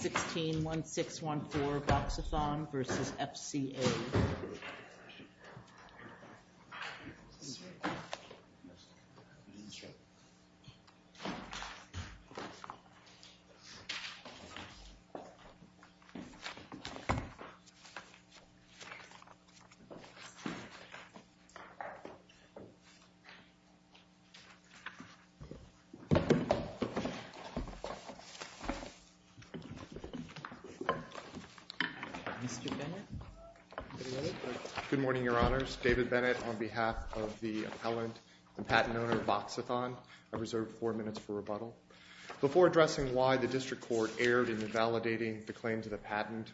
161614 Voxathon v. FCA Good morning, your honors. David Bennett on behalf of the appellant and patent owner of Voxathon. I reserve four minutes for rebuttal. Before addressing why the district court erred in invalidating the claims of the patent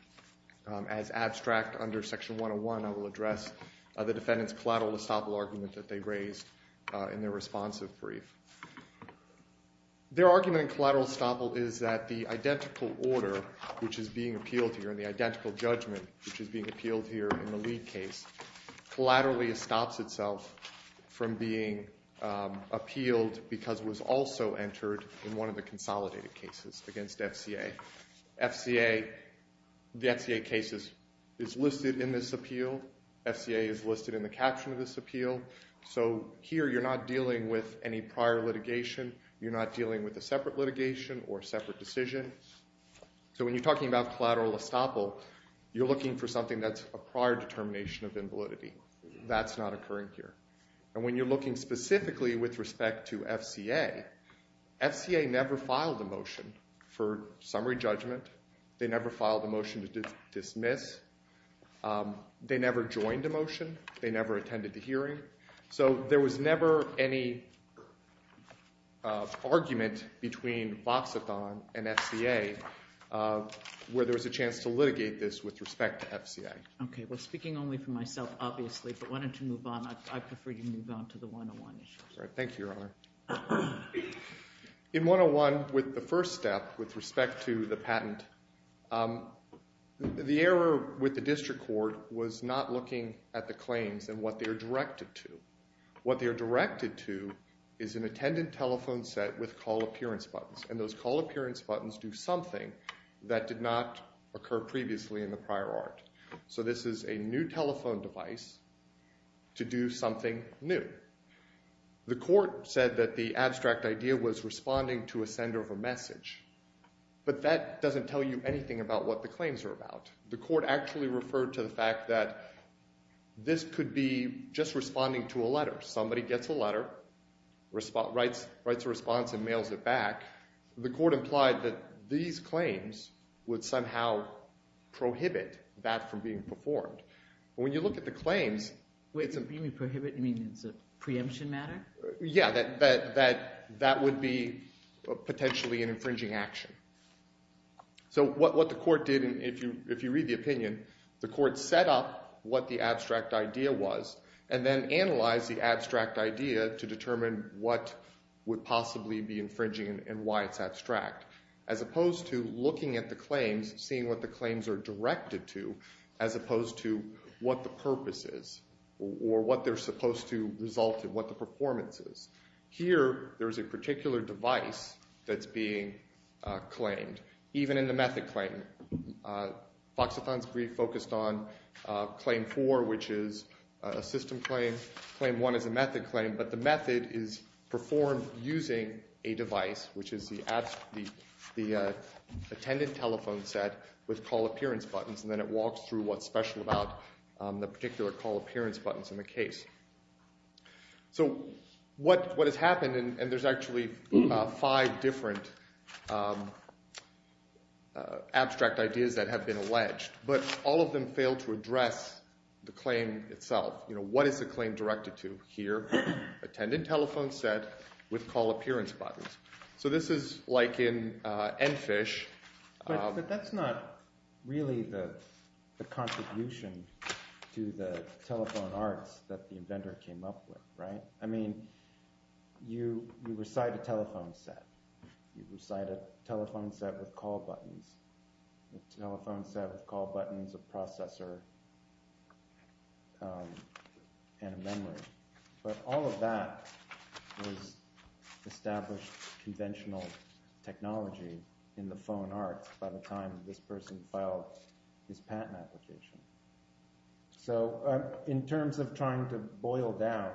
as abstract under section 101, I will address the defendant's collateral estoppel argument that they raised in their responsive brief. Their argument in collateral estoppel is that the identical order which is being appealed here and the identical judgment which is being appealed here in the lead case collaterally stops itself from being appealed because it was also entered in one of the consolidated cases against FCA. The FCA case is listed in this appeal. FCA is listed in the caption of this appeal. So here you're not dealing with any prior litigation. You're not dealing with a separate litigation or a separate decision. So when you're talking about collateral estoppel, you're looking for something that's a prior determination of invalidity. That's not occurring here. And when you're looking specifically with respect to FCA, FCA never filed a motion for summary judgment. They never filed a motion to dismiss. They never joined a motion. They never attended the hearing. So there was never any argument between Voxathon and FCA where there was a chance to litigate this with respect to FCA. OK. Well, speaking only for myself, obviously, but why don't you move on? I prefer you move on to the 101 issue. Thank you, Your Honor. In 101, with the first step with respect to the patent, the error with the district court was not looking at the claims and what they are directed to. What they are directed to is an attendant telephone set with call appearance buttons. And those call appearance buttons do something that did not occur previously in the prior art. So this is a new telephone device to do something new. The court said that the abstract idea was responding to a sender of a message. But that doesn't tell you anything about what the claims are about. The court actually referred to the fact that this could be just responding to a letter. Somebody gets a letter, writes a response, and mails it back. The court implied that these claims would somehow prohibit that from being performed. When you look at the claims, it's a preemption matter. Yeah, that would be potentially an So what the court did, if you read the opinion, the court set up what the abstract idea was and then analyzed the abstract idea to determine what would possibly be infringing and why it's abstract, as opposed to looking at the claims, seeing what the claims are directed to, as opposed to what the purpose is or what they're supposed to result in, what the performance is. Here, there's a particular device that's being claimed. Even in the method claim, Fox-A-Thon's brief focused on claim 4, which is a system claim. Claim 1 is a method claim, but the method is performed using a device, which is the attendant telephone set with call appearance buttons, and then it walks through what's special about the particular call appearance buttons in the case. So what has happened, and there's actually five different abstract ideas that have been alleged, but all of them fail to address the claim itself. What is the claim directed to here? Attendant telephone set with call appearance buttons. So this is like in N-Fish. But that's not really the contribution to the telephone arts that the inventor came up with, right? I mean, you recite a telephone set. You recite a telephone set with call buttons. A telephone set with call buttons, a processor, and a memory. But all of that was established conventional technology in the phone arts by the time this person filed his patent application. So in terms of trying to boil down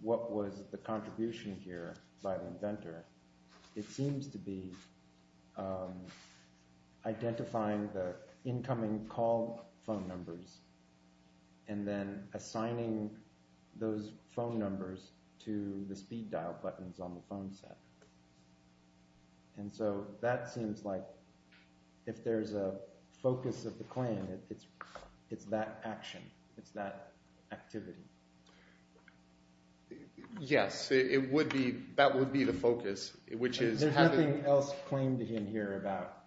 what was the contribution here by the inventor, it seems to be identifying the incoming call phone numbers, and then assigning those phone numbers to the speed dial buttons on the phone set. And so that seems like if there's a focus of the claim, it's that action. It's that activity. Yes, it would be. That would be the focus, which is having... There's nothing else claimed in here about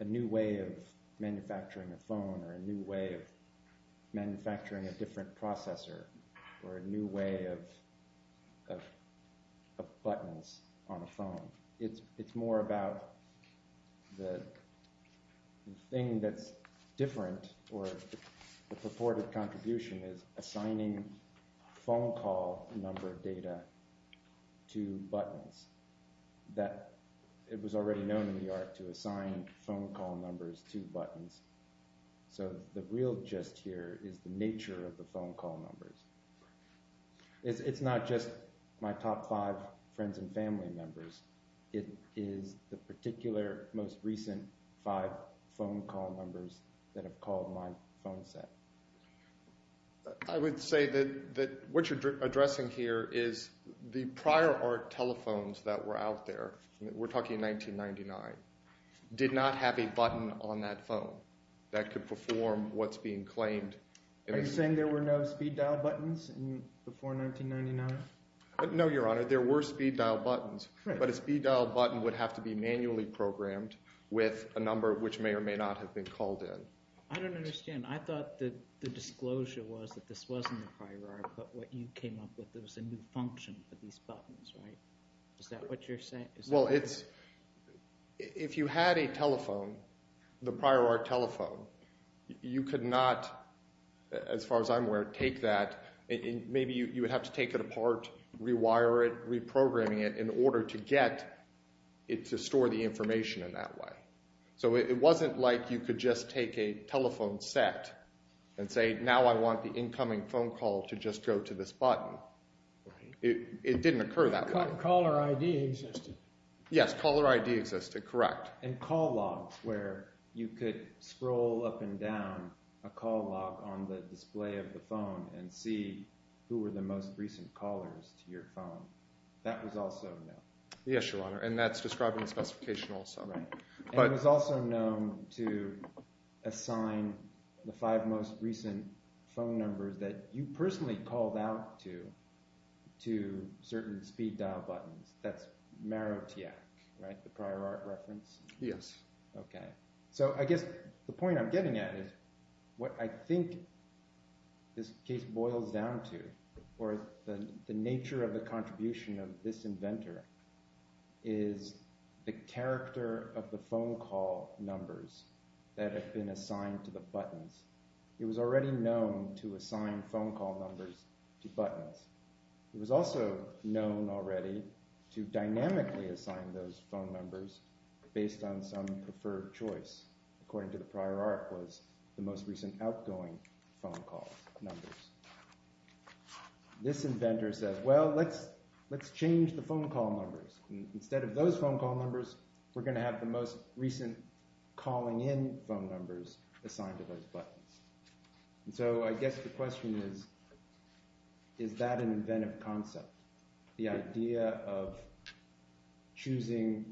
a new way of manufacturing a phone, or a new way of manufacturing a different processor, or a new way of buttons on a phone. It's more about the thing that's different, or the purported contribution is assigning phone call number data to buttons. It was already known in the art to assign phone call numbers to buttons. So the real gist here is the nature of the phone call numbers. It's not just my top five friends and family members. It is the particular most recent five phone call numbers that have called my phone set. I would say that what you're addressing here is the prior art telephones that were out there, we're talking 1999, did not have a telephone that could perform what's being claimed. Are you saying there were no speed dial buttons before 1999? No, Your Honor, there were speed dial buttons, but a speed dial button would have to be manually programmed with a number which may or may not have been called in. I don't understand. I thought that the disclosure was that this wasn't the prior art, but what you came up with was a new function for these buttons, right? Is that what you're saying? Well, if you had a telephone, the prior art telephone, you could not, as far as I'm aware, take that, maybe you would have to take it apart, rewire it, reprogramming it in order to get it to store the information in that way. So it wasn't like you could just take a telephone set and say, now I want the incoming phone call to just go to this button. It didn't occur that way. But caller ID existed. Yes, caller ID existed, correct. And call logs, where you could scroll up and down a call log on the display of the phone and see who were the most recent callers to your phone, that was also known. Yes, Your Honor, and that's described in the specification also. Right, and it was also known to assign the five most recent phone numbers that you personally called out to, to certain speed dial buttons. That's Marotiac, right, the prior art reference? Yes. Okay. So I guess the point I'm getting at is what I think this case boils down to, or the nature of the contribution of this inventor, is the character of the phone call numbers that have been assigned to the buttons. It was already known to assign phone call numbers to buttons. It was also known already to dynamically assign those phone numbers based on some preferred choice, according to the prior art, was the most recent outgoing phone call numbers. This inventor says, well, let's change the phone call numbers. Instead of those phone call numbers, we're going to have the most recent calling in phone numbers assigned to those buttons. So I guess the question is, is that an inventive concept, the idea of choosing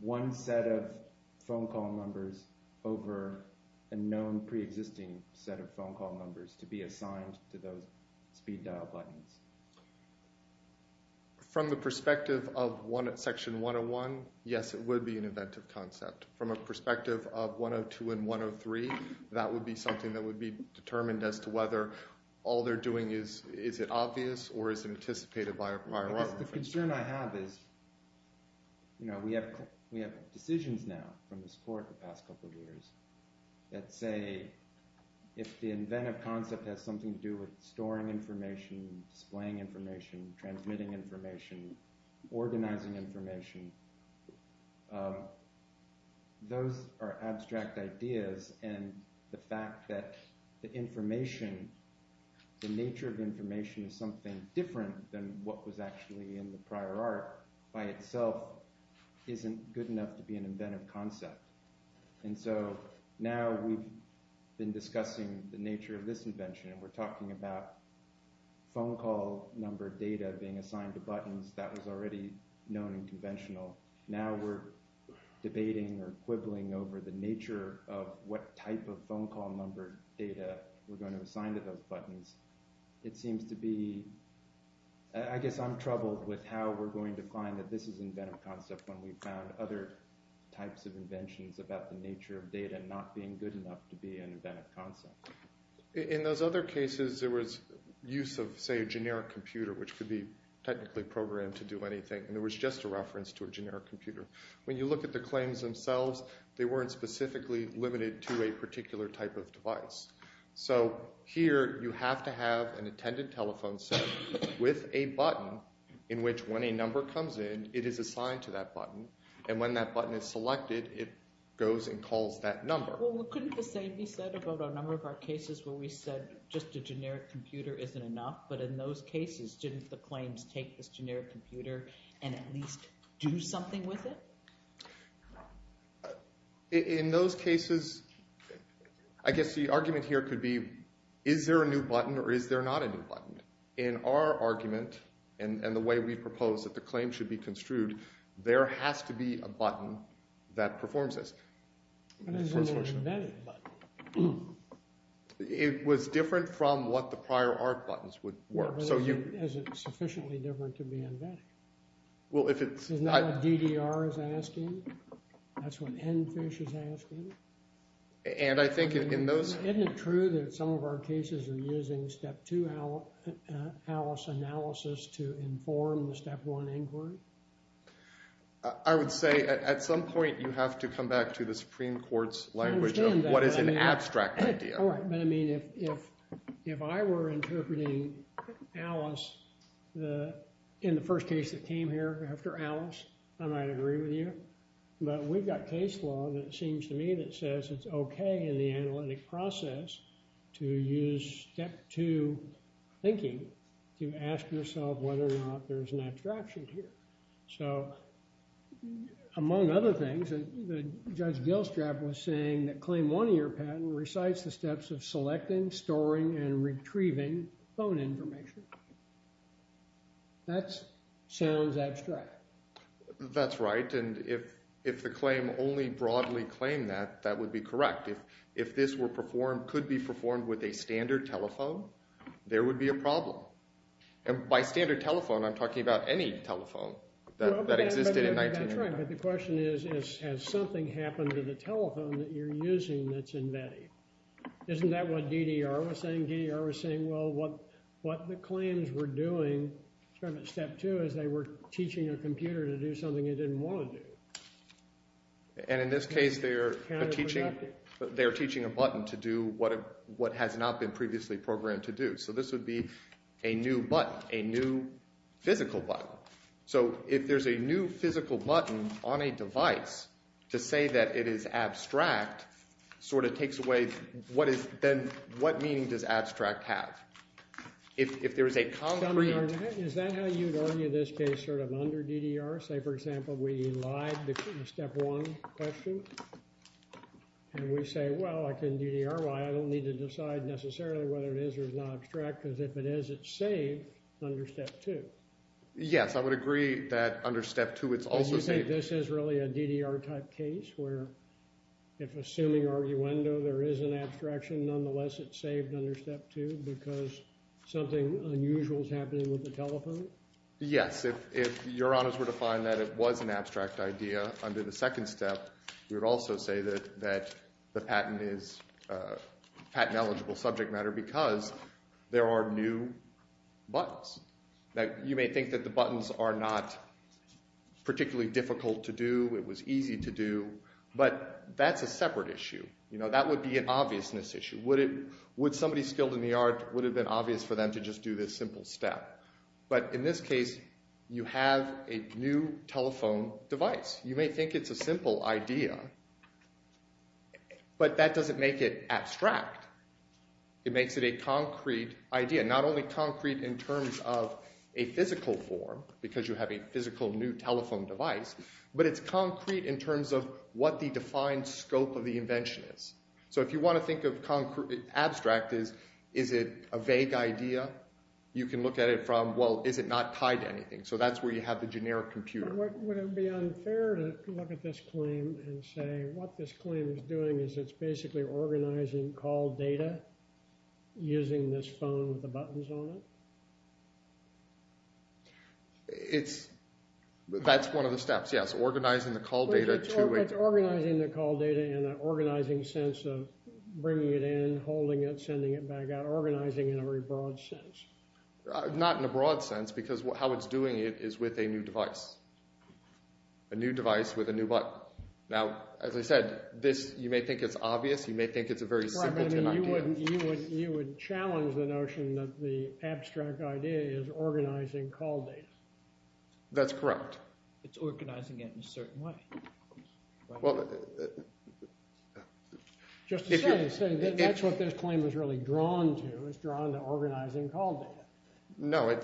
one set of phone call numbers over a known pre-existing set of phone call numbers to be assigned to those speed dial buttons? From the perspective of Section 101, yes, it would be an inventive concept. From a perspective of 102 and 103, that would be something that would be determined as to whether all they're doing is, is it obvious or is it anticipated by a prior art reference? The concern I have is, you know, we have, we have decisions now from this court the past couple of years that say if the inventive concept has something to do with storing information, displaying information, transmitting information, organizing information, those are abstract ideas and the fact that the information, the nature of information is something different than what was actually in the prior art by itself isn't good enough to be an inventive concept. And so now we've been discussing the nature of this invention and we're talking about phone call number data being assigned to buttons that was already known and conventional. Now we're debating or quibbling over the nature of what type of phone call number data we're going to assign to those buttons. It seems to be, I guess I'm troubled with how we're going to find that this is an inventive concept when we've found other types of inventions about the nature of data not being good enough to be an inventive concept. In those other cases there was use of say a generic computer which could be technically programmed to do anything and there was just a reference to a generic computer. When you look at the claims themselves they weren't specifically limited to a particular type of device. So here you have to have an attended telephone set with a button in which when a number comes in it is assigned to that button and when that button is selected it goes and calls that number. Well couldn't the same be said about a number of our cases where we said just a generic computer isn't enough but in those cases didn't the claims take this generic computer and at least do something with it? In those cases I guess the argument here could be is there a new button or is there not a new button? In our argument and the way we propose that the claim should be an inventive button. It was different from what the prior ARC buttons were. So is it sufficiently different to be inventive? Well if it's Isn't that what DDR is asking? That's what NFISH is asking? And I think in those Isn't it true that some of our cases are using step two analysis to inform the step one inquiry? I would say at some point you have to come back to the Supreme Court's language of what is an abstract idea. But I mean if I were interpreting Alice in the first case that came here after Alice I might agree with you but we've got case law that seems to me that says it's okay in the analytic process to use step two thinking to ask yourself whether or not there's an abstraction here. So among other things, Judge Gilstrap was saying that claim one of your patent recites the steps of selecting, storing, and retrieving phone information. That sounds abstract. That's right and if the claim only broadly claimed that, that would be correct. If this could be performed with a standard telephone, there would be a problem. And by standard telephone, I'm talking about any telephone that existed in 1990. But the question is, has something happened to the telephone that you're using that's embedded? Isn't that what DDR was saying? DDR was saying, well, what the claims were doing from step two is they were teaching a computer to do something it didn't want to do. And in this case they are teaching a button to do what has not been previously programmed to do. So this would be a new button, a new physical button. So if there's a new physical button on a device to say that it is abstract, sort of takes away what is then, what meaning does abstract have? If there is a concrete... Is that how you would argue this case sort of under DDR? Say for example, we lied between step one question and we say, well, if I can DDR, I don't need to decide necessarily whether it is or is not abstract because if it is, it's saved under step two. Yes, I would agree that under step two it's also saved. Do you think this is really a DDR type case where if assuming arguendo there is an abstraction, nonetheless it's saved under step two because something unusual is happening with the telephone? Yes. If your honors were to find that it was an abstract idea under the second step, you would also say that the patent is patent eligible subject matter because there are new buttons. You may think that the buttons are not particularly difficult to do, it was easy to do, but that's a separate issue. That would be an obviousness issue. Would somebody skilled in the art, would it have been obvious for them to just do this simple step? But in this case, you have a new telephone device. You may think it's a simple idea, but that doesn't make it abstract. It makes it a concrete idea. Not only concrete in terms of a physical form, because you have a physical new telephone device, but it's concrete in terms of what the defined scope of the invention is. So if you want to think of abstract as is it a vague idea, you can look at it from, well, is it not tied to anything? So that's where you have the generic computer. Would it be unfair to look at this claim and say what this claim is doing is it's basically organizing call data using this phone with the buttons on it? That's one of the steps, yes. Organizing the call data to it. It's organizing the call data in an organizing sense of bringing it in, holding it, sending it back out. Organizing in a very broad sense. Not in a broad sense, because how it's doing it is with a new device. A new device with a new button. Now, as I said, you may think it's obvious. You may think it's a very simple idea. You would challenge the notion that the abstract idea is organizing call data. That's correct. It's organizing it in a certain way. Just to say, that's what this claim is really drawn to. It's drawn to organizing call data. No.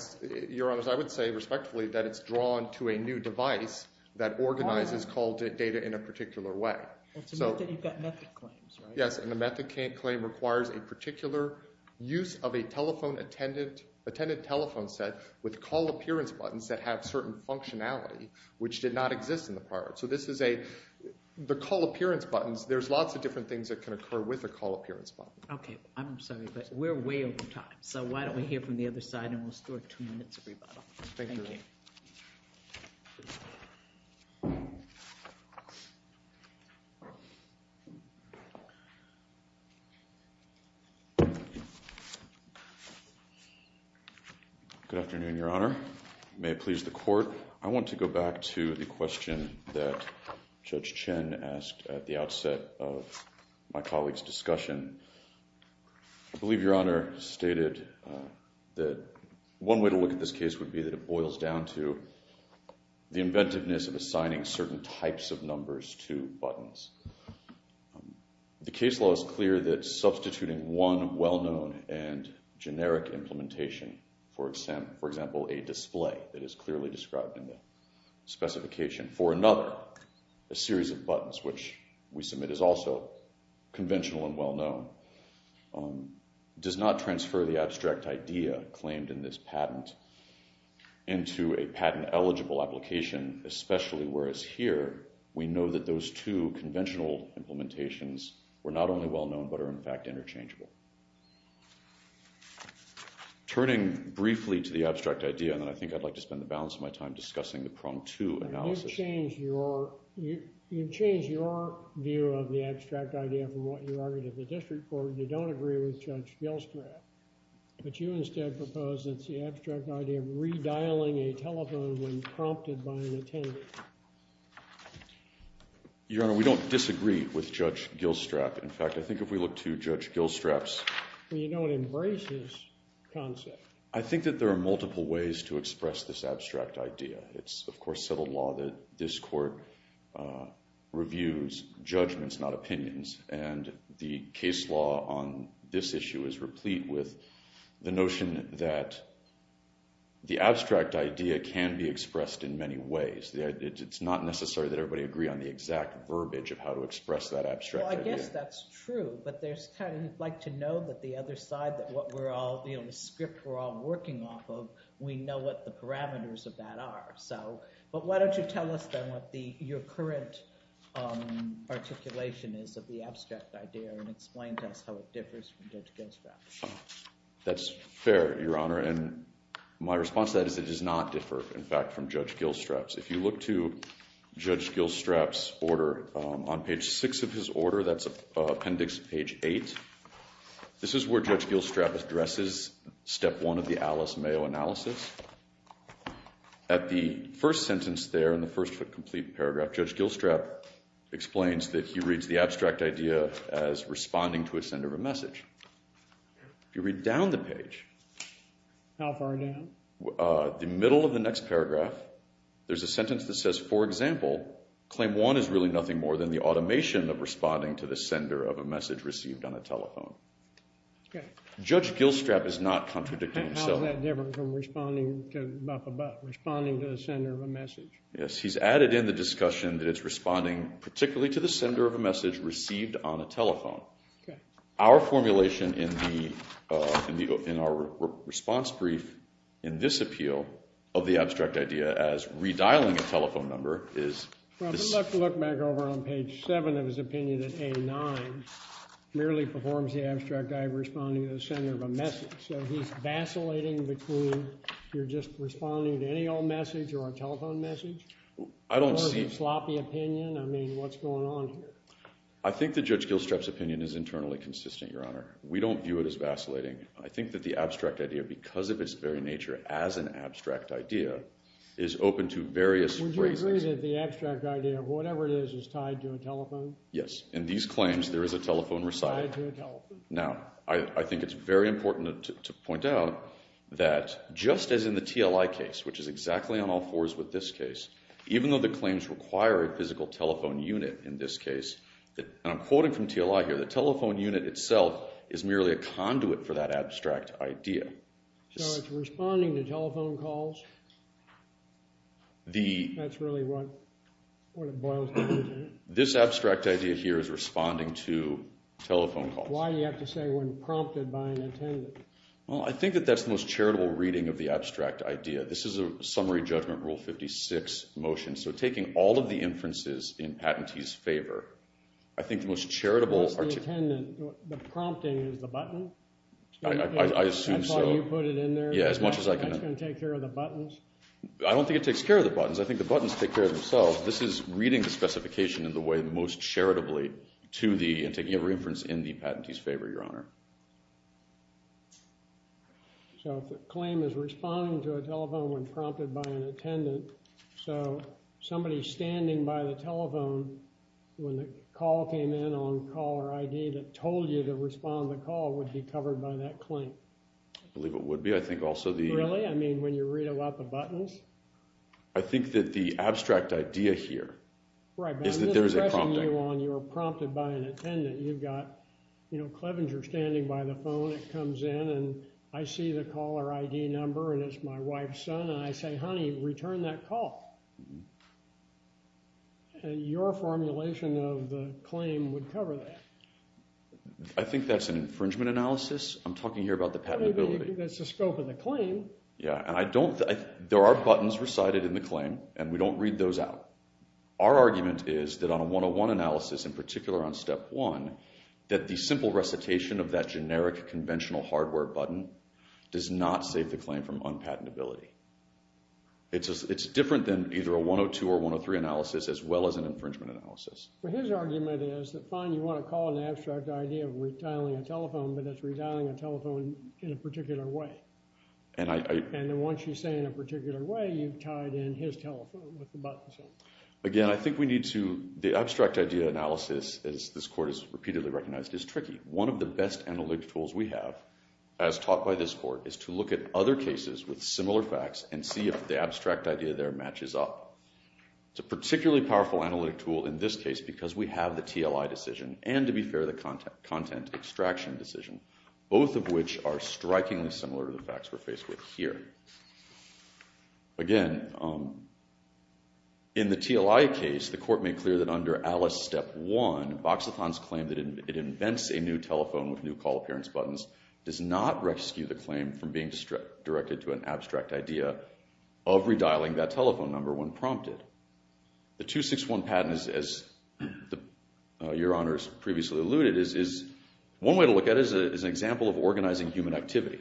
Your Honor, I would say respectfully that it's drawn to a new device that organizes call data in a particular way. It's a myth that you've got method claims, right? Yes, and the method claim requires a particular use of a telephone attendant, attendant telephone set with call appearance buttons that have certain functionality, which did not exist in the prior. So this is a, the call appearance buttons, there's lots of different things that can occur with a call appearance button. Okay, I'm sorry, but we're way over time. So why don't we hear from the other side and we'll store two minutes of rebuttal. Thank you. Good afternoon, Your Honor. May it please the Court. I want to go back to the question that Judge Chen asked at the outset of my colleague's discussion. I believe Your Honor stated that one way to look at this case would be that it boils down to the inventiveness of assigning certain types of numbers to buttons. The case law is clear that substituting one well-known and generic implementation, for example, a display that is clearly described in the specification for another, a series of buttons, which we submit is also conventional and well-known, does not transfer the abstract idea claimed in this patent into a patent-eligible application, especially whereas here, we know that those two conventional implementations were not only well-known, but are in fact interchangeable. Turning briefly to the abstract idea, and then I think I'd like to spend the balance of my time discussing the prong two analysis. You've changed your view of the abstract idea from what you argued at the district court. You don't agree with Judge Gilstrap. But you instead propose that it's the abstract idea of redialing a telephone when prompted by an attendee. Your Honor, we don't disagree with Judge Gilstrap. In fact, I think if we look to Judge Gilstrap's... Well, you don't embrace his concept. I think that there are multiple ways to express this abstract idea. It's, of course, settled law that this court reviews judgments, not opinions. And the case law on this issue is replete with the notion that the abstract idea can be expressed in many ways. It's not necessary that everybody agree on the exact verbiage of how to express that abstract idea. Well, I guess that's true. But there's kind of... You'd like to know that the other side, that what we're all... The script we're all working off of, we know what the parameters of that are. But why don't you tell us then what your current articulation is of the abstract idea and explain to us how it differs from Judge Gilstrap's. That's fair, Your Honor. And my response to that is it does not differ, in fact, from Judge Gilstrap's. If you look to Judge Gilstrap's order, on page 6 of his order, that's appendix page 8, this is where Judge Gilstrap addresses step 1 of the Alice Mayo analysis. At the first sentence there, in the first complete paragraph, Judge Gilstrap explains that he reads the abstract idea as responding to a sender of a message. If you read down the page... How far down? The middle of the next paragraph, there's a sentence that says, for example, claim 1 is really nothing more than the automation of responding to the sender of a message received on a telephone. Okay. Judge Gilstrap is not contradicting himself. And how is that different from responding to... responding to the sender of a message? Yes, he's added in the discussion that it's responding particularly to the sender of a message received on a telephone. Okay. Our formulation in our response brief in this appeal of the abstract idea as redialing a telephone number is... Well, if you look back over on page 7 of his opinion in A9, merely performs the abstract idea of responding to the sender of a message. So he's vacillating between... You're just responding to any old message or a telephone message? I don't see... Or a sloppy opinion? I mean, what's going on here? I think that Judge Gilstrap's opinion is internally consistent, Your Honor. We don't view it as vacillating. I think that the abstract idea, because of its very nature as an abstract idea, is open to various phrasings. Would you agree that the abstract idea of whatever it is is tied to a telephone? Yes. In these claims, there is a telephone recital. Tied to a telephone. Now, I think it's very important to point out that just as in the TLI case, which is exactly on all fours with this case, even though the claims require a physical telephone unit in this case, and I'm quoting from TLI here, the telephone unit itself is merely a conduit for that abstract idea. So it's responding to telephone calls? The... That's really what it boils down to. This abstract idea here is responding to telephone calls. Why do you have to say, when prompted by an attendant? Well, I think that that's the most charitable reading of the abstract idea. This is a summary judgment, Rule 56 motion. So taking all of the inferences in patentee's favor, I think the most charitable... What's the attendant? The prompting is the button? I assume so. I thought you put it in there. Yeah, as much as I can... You think that's gonna take care of the buttons? I don't think it takes care of the buttons. I think the buttons take care of themselves. This is reading the specification in the way most charitably to the... and taking every inference in the patentee's favor, Your Honor. So if the claim is responding to a telephone when prompted by an attendant, so somebody standing by the telephone when the call came in on caller ID that told you to respond to the call would be covered by that claim? I believe it would be. I think also the... Really? I mean, when you read about the buttons? I think that the abstract idea here is that there's a prompting. You're prompted by an attendant. You've got, you know, Clevenger standing by the phone. It comes in, and I see the caller ID number, and it's my wife's son, and I say, Honey, return that call. And your formulation of the claim would cover that. I think that's an infringement analysis. I'm talking here about the patentability. That's the scope of the claim. Yeah, and I don't... There are buttons recited in the claim, and we don't read those out. Our argument is that on a 101 analysis, in particular on Step 1, that the simple recitation of that generic conventional hardware button does not save the claim from unpatentability. It's different than either a 102 or 103 analysis as well as an infringement analysis. But his argument is that, fine, you want to call an abstract idea of retiling a telephone, but that's retiling a telephone in a particular way. And I... And then once you say in a particular way, you've tied in his telephone with the button. Again, I think we need to... The abstract idea analysis, as this court has repeatedly recognized, is tricky. One of the best analytic tools we have, as taught by this court, is to look at other cases with similar facts and see if the abstract idea there matches up. It's a particularly powerful analytic tool in this case because we have the TLI decision, and, to be fair, the content extraction decision, both of which are strikingly similar to the facts we're faced with here. Again, um... In the TLI case, the court made clear that under Alice Step 1, Boxathon's claim that it invents a new telephone with new call appearance buttons does not rescue the claim from being directed to an abstract idea of redialing that telephone number when prompted. The 261 patent, as Your Honor has previously alluded, is... One way to look at it is an example of organizing human activity.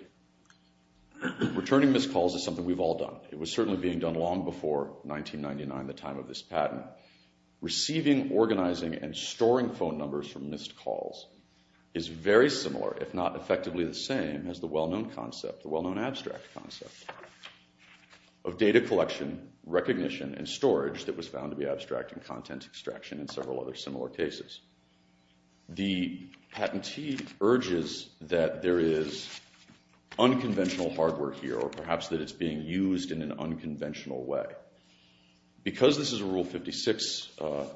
Returning missed calls is something we've all done. It was certainly being done long before 1999, the time of this patent. Receiving, organizing, and storing phone numbers from missed calls is very similar, if not effectively the same, as the well-known concept, the well-known abstract concept, of data collection, recognition, and storage that was found to be abstract in content extraction in several other similar cases. The patentee urges that there is unconventional hardware here, or perhaps that it's being used in an unconventional way. Because this is a Rule 56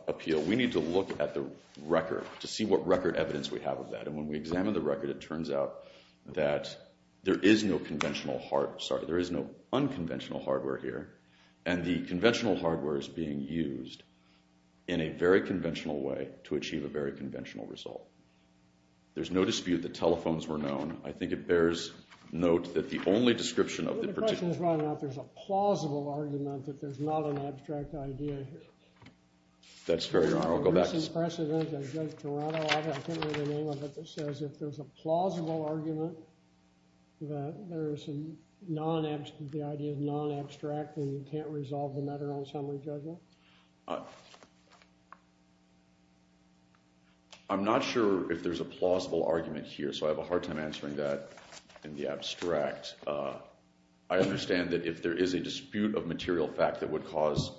appeal, we need to look at the record to see what record evidence we have of that. And when we examine the record, it turns out that there is no conventional hard... Sorry, there is no unconventional hardware here, and the conventional hardware is being used in a very conventional way to achieve a very conventional result. There's no dispute that telephones were known. I think it bears note that the only description of the particular... The question is whether or not there's a plausible argument that there's not an abstract idea here. That's fair, Your Honor. I'll go back to... There's a recent precedent in Toronto. I can't remember the name of it that says if there's a plausible argument that there's a non... The idea is non-abstract and you can't resolve the matter on summary judgment. I'm not sure if there's a plausible argument here, so I have a hard time answering that in the abstract. I understand that if there is a dispute of material fact that would cause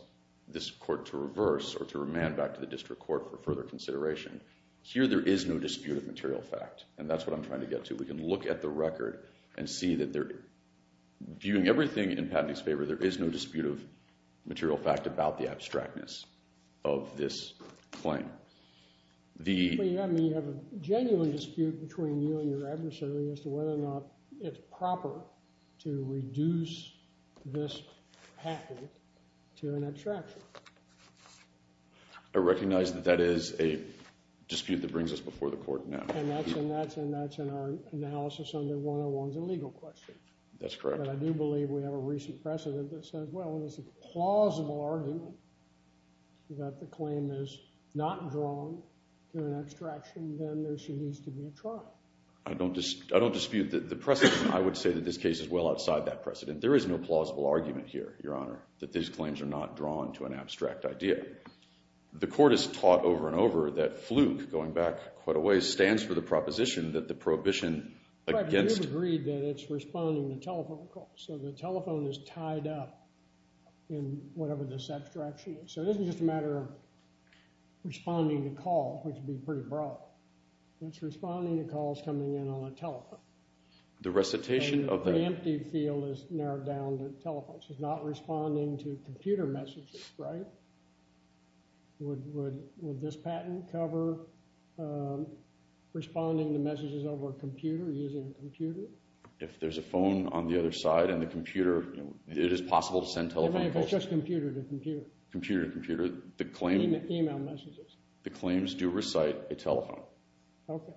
this court to reverse or to remand back to the district court for further consideration. Here, there is no dispute of material fact, and that's what I'm trying to get to. We can look at the record and see that they're... Viewing everything in Patnick's favour, there is no dispute of material fact about the abstractness of this claim. The... But you have a genuine dispute between you and your adversary as to whether or not it's proper to reduce this patent to an abstraction. I recognize that that is a dispute that brings us before the court now. And that's in our analysis under 101's illegal question. That's correct. But I do believe we have a recent precedent that says, well, if it's a plausible argument that the claim is not drawn to an abstraction, then there needs to be a trial. I don't dispute the precedent. I would say that this case is well outside that precedent. There is no plausible argument here, Your Honour, that these claims are not drawn to an abstract idea. The court has taught over and over that Fluke, going back quite a ways, stands for the proposition that the prohibition against... But you've agreed that it's responding to telephone calls. So the telephone is tied up in whatever this abstraction is. So this is just a matter of responding to calls, which would be pretty broad. It's responding to calls coming in on a telephone. The recitation of the... And the empty field is narrowed down to telephones. It's not responding to computer messages, right? Would this patent cover responding to messages over a computer, using a computer? If there's a phone on the other side and the computer... It is possible to send telephone calls. Even if it's just computer to computer? Computer to computer. Email messages. The claims do recite a telephone. Okay.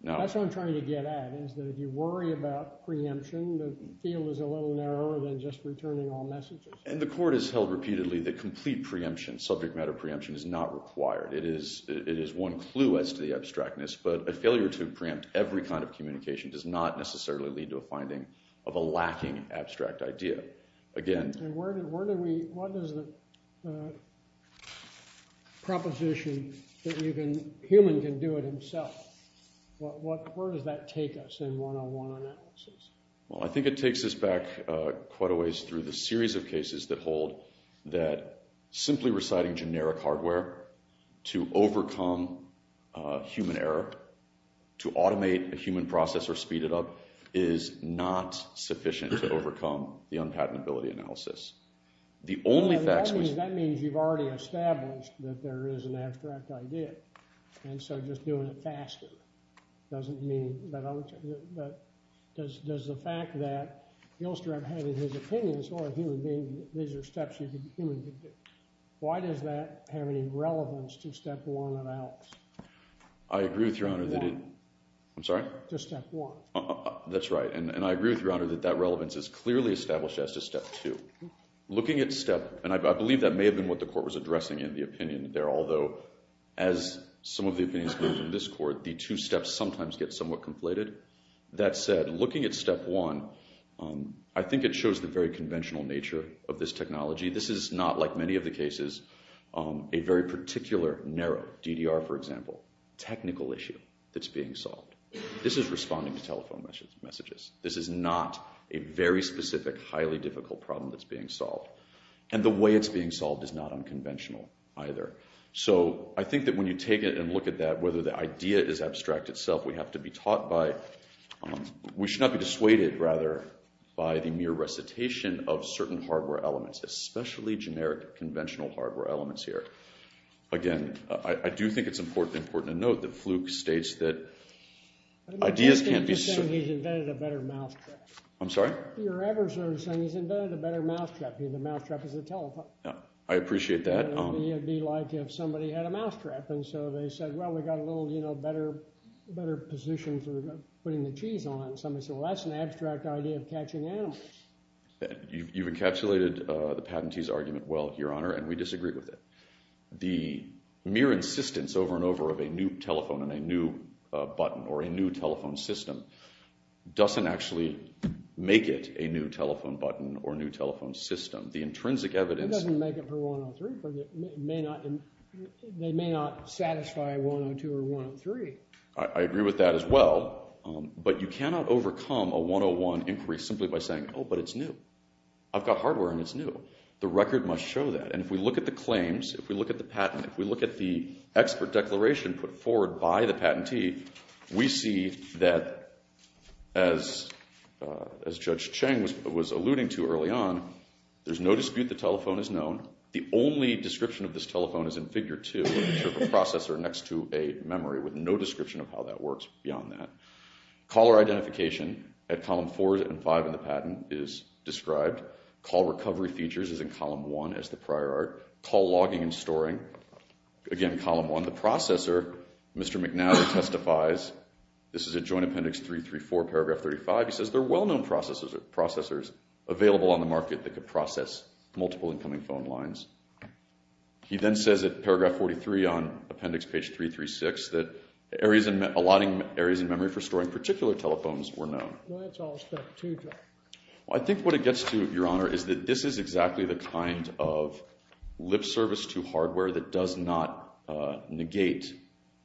That's what I'm trying to get at, is that if you worry about preemption, the field is a little narrower than just returning all messages. And the court has held repeatedly that complete preemption, subject matter preemption, is not required. It is one clue as to the abstractness, but a failure to preempt every kind of communication does not necessarily lead to a finding of a lacking abstract idea. Again... And where do we... What is the proposition that you can... Human can do it himself? Where does that take us in one-on-one analysis? Well, I think it takes us back quite a ways through the series of cases that hold that simply reciting generic hardware to overcome human error, to automate a human process or speed it up, is not sufficient to overcome the unpatentability analysis. The only facts... That means you've already established that there is an abstract idea. And so just doing it faster doesn't mean that... Does the fact that Gilstrap had in his opinions or a human being, these are steps a human can do. Why does that have any relevance to step one analysis? I agree with Your Honor that it... I'm sorry? To step one. That's right. And I agree with Your Honor that that relevance is clearly established as to step two. Looking at step... And I believe that may have been what the court was addressing in the opinion there, although as some of the opinions come from this court, the two steps sometimes get somewhat conflated. That said, looking at step one, I think it shows the very conventional nature of this technology. This is not, like many of the cases, a very particular, narrow, DDR for example, technical issue that's being solved. This is responding to telephone messages. This is not a very specific, highly difficult problem that's being solved. And the way it's being solved is not unconventional either. So I think that when you take it and look at that, whether the idea is abstract itself, we have to be taught by... We should not be dissuaded, rather, by the mere recitation of certain hardware elements, especially generic, conventional hardware elements here. Again, I do think it's important to note that Fluke states that ideas can't be... He's invented a better mousetrap. I'm sorry? You're ever sort of saying he's invented a better mousetrap. The mousetrap is the telephone. I appreciate that. It would be like if somebody had a mousetrap, and so they said, well, we've got a little, you know, better position for putting the cheese on it. Somebody said, well, that's an abstract idea of catching animals. You've encapsulated the patentee's argument well, Your Honor, and we disagree with it. The mere insistence over and over of a new telephone and a new button or a new telephone system doesn't actually make it a new telephone button or a new telephone system. The intrinsic evidence... It doesn't make it for 103, but it may not... They may not satisfy 102 or 103. I agree with that as well, but you cannot overcome a 101 inquiry simply by saying, oh, but it's new. I've got hardware, and it's new. The record must show that, and if we look at the claims, if we look at the patent, if we look at the expert declaration put forward by the patentee, we see that, as Judge Cheng was alluding to early on, there's no dispute the telephone is known. The only description of this telephone is in figure 2 of a processor next to a memory with no description of how that works beyond that. Caller identification at column 4 and 5 in the patent is described. Call recovery features is in column 1 as the prior art. Call logging and storing, again, column 1. The processor, Mr. McNally testifies. This is at Joint Appendix 334, paragraph 35. He says, there are well-known processors available on the market that could process multiple incoming phone lines. He then says at paragraph 43 on appendix page 336 that areas allotting areas in memory for storing particular telephones were known. Well, that's all step 2, Judge. I think what it gets to, Your Honor, is that this is exactly the kind of lip service to hardware that does not negate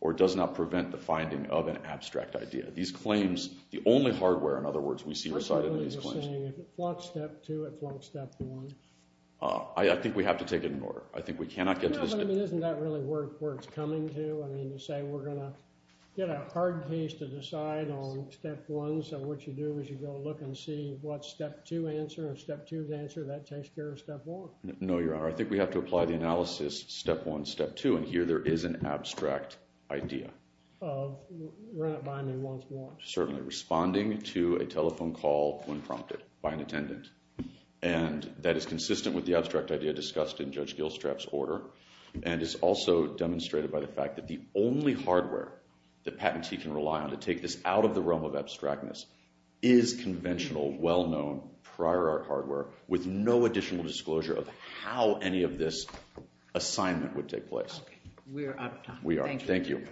or does not prevent the finding of an abstract idea. These claims, the only hardware, in other words, we see recited in these claims. I thought you were saying if it flunked step 2, it flunked step 1. I think we have to take it in order. I think we cannot get to the... Isn't that really where it's coming to? I mean, to say we're going to get a hard case to decide on step 1 so what you do is you go look and see what's step 2 answer or step 2 answer that takes care of step 1. No, Your Honor. I think we have to apply the analysis step 1, step 2 and here there is of... Run it by me once more. Certainly. Responding to a telephone call when prompted by an attendant and that is consistent with the abstract idea discussed in Judge and it is also demonstrated by the fact that the only hardware that Patentee can rely on to take this out of the realm of abstractness is conventional well-known prior art hardware with no additional disclosure of how any of this assignment would take place. Okay. We are. Thank you. Thank you.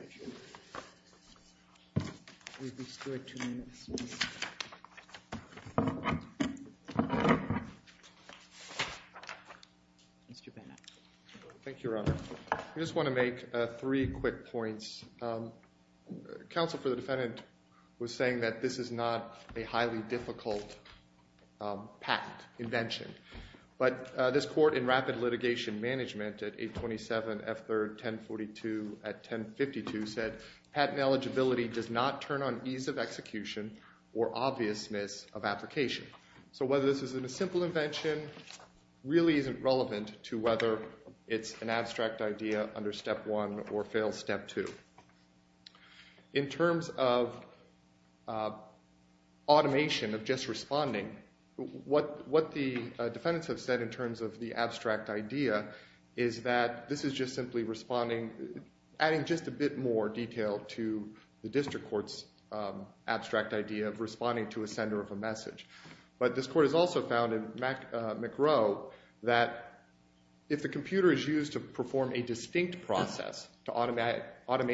We have restored two minutes. Mr. Bannon. Thank you, Your Honor. I just want to make a point I just want to make three quick points. Counsel for the defendant was saying that this is not a highly difficult patent invention but this court in rapid litigation management at 827 F3rd 1042 at 1052 said patent eligibility does not turn on ease of execution or obviousness of application. So whether this is a simple invention really isn't relevant to whether it's an abstract idea under step one or fail step two. In terms of automation of just responding what the defendants have said in terms of the abstract idea is that this is just simply responding adding just a bit more detail to the district court's abstract idea of responding to a sender of a message. But this court has also found in McRow that if the computer is used to perform a distinct process to automate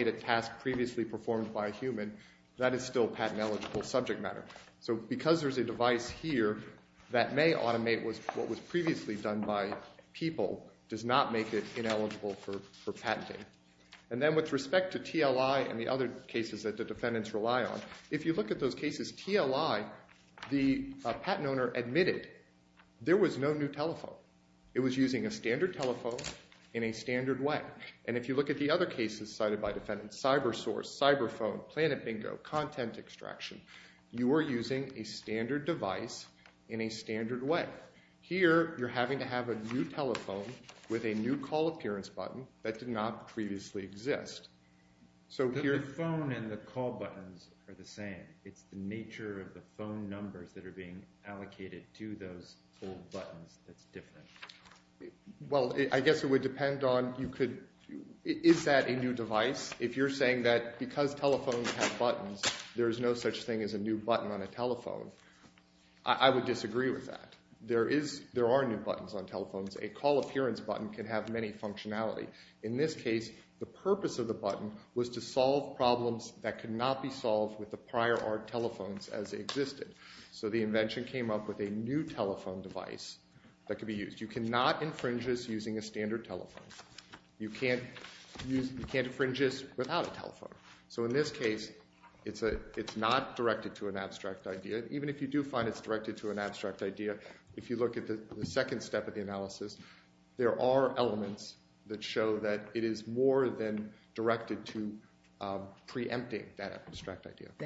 a task previously performed by a human that is still patent eligible subject matter. So because there's a device here that may automate what was previously done by people does not make it ineligible for patenting. And then with respect to TLI and the other cases that the defendants rely on if you look at those cases TLI the patent extraction the content extraction you are using a standard device in a standard way. Here you're having to have a new telephone with a new call appearance button that did not previously exist. The phone and the call buttons are the same. There is no such thing as a new button on a telephone. I would disagree with that. There are new buttons on telephones. A call appearance button can have many functionality. In this case the new telephone is not directed to an abstract idea. If you look at the second step of the analysis there are elements that show that it is more than directed to preempting that The new telephone and the call button are not directly directed to a new object on a telephone.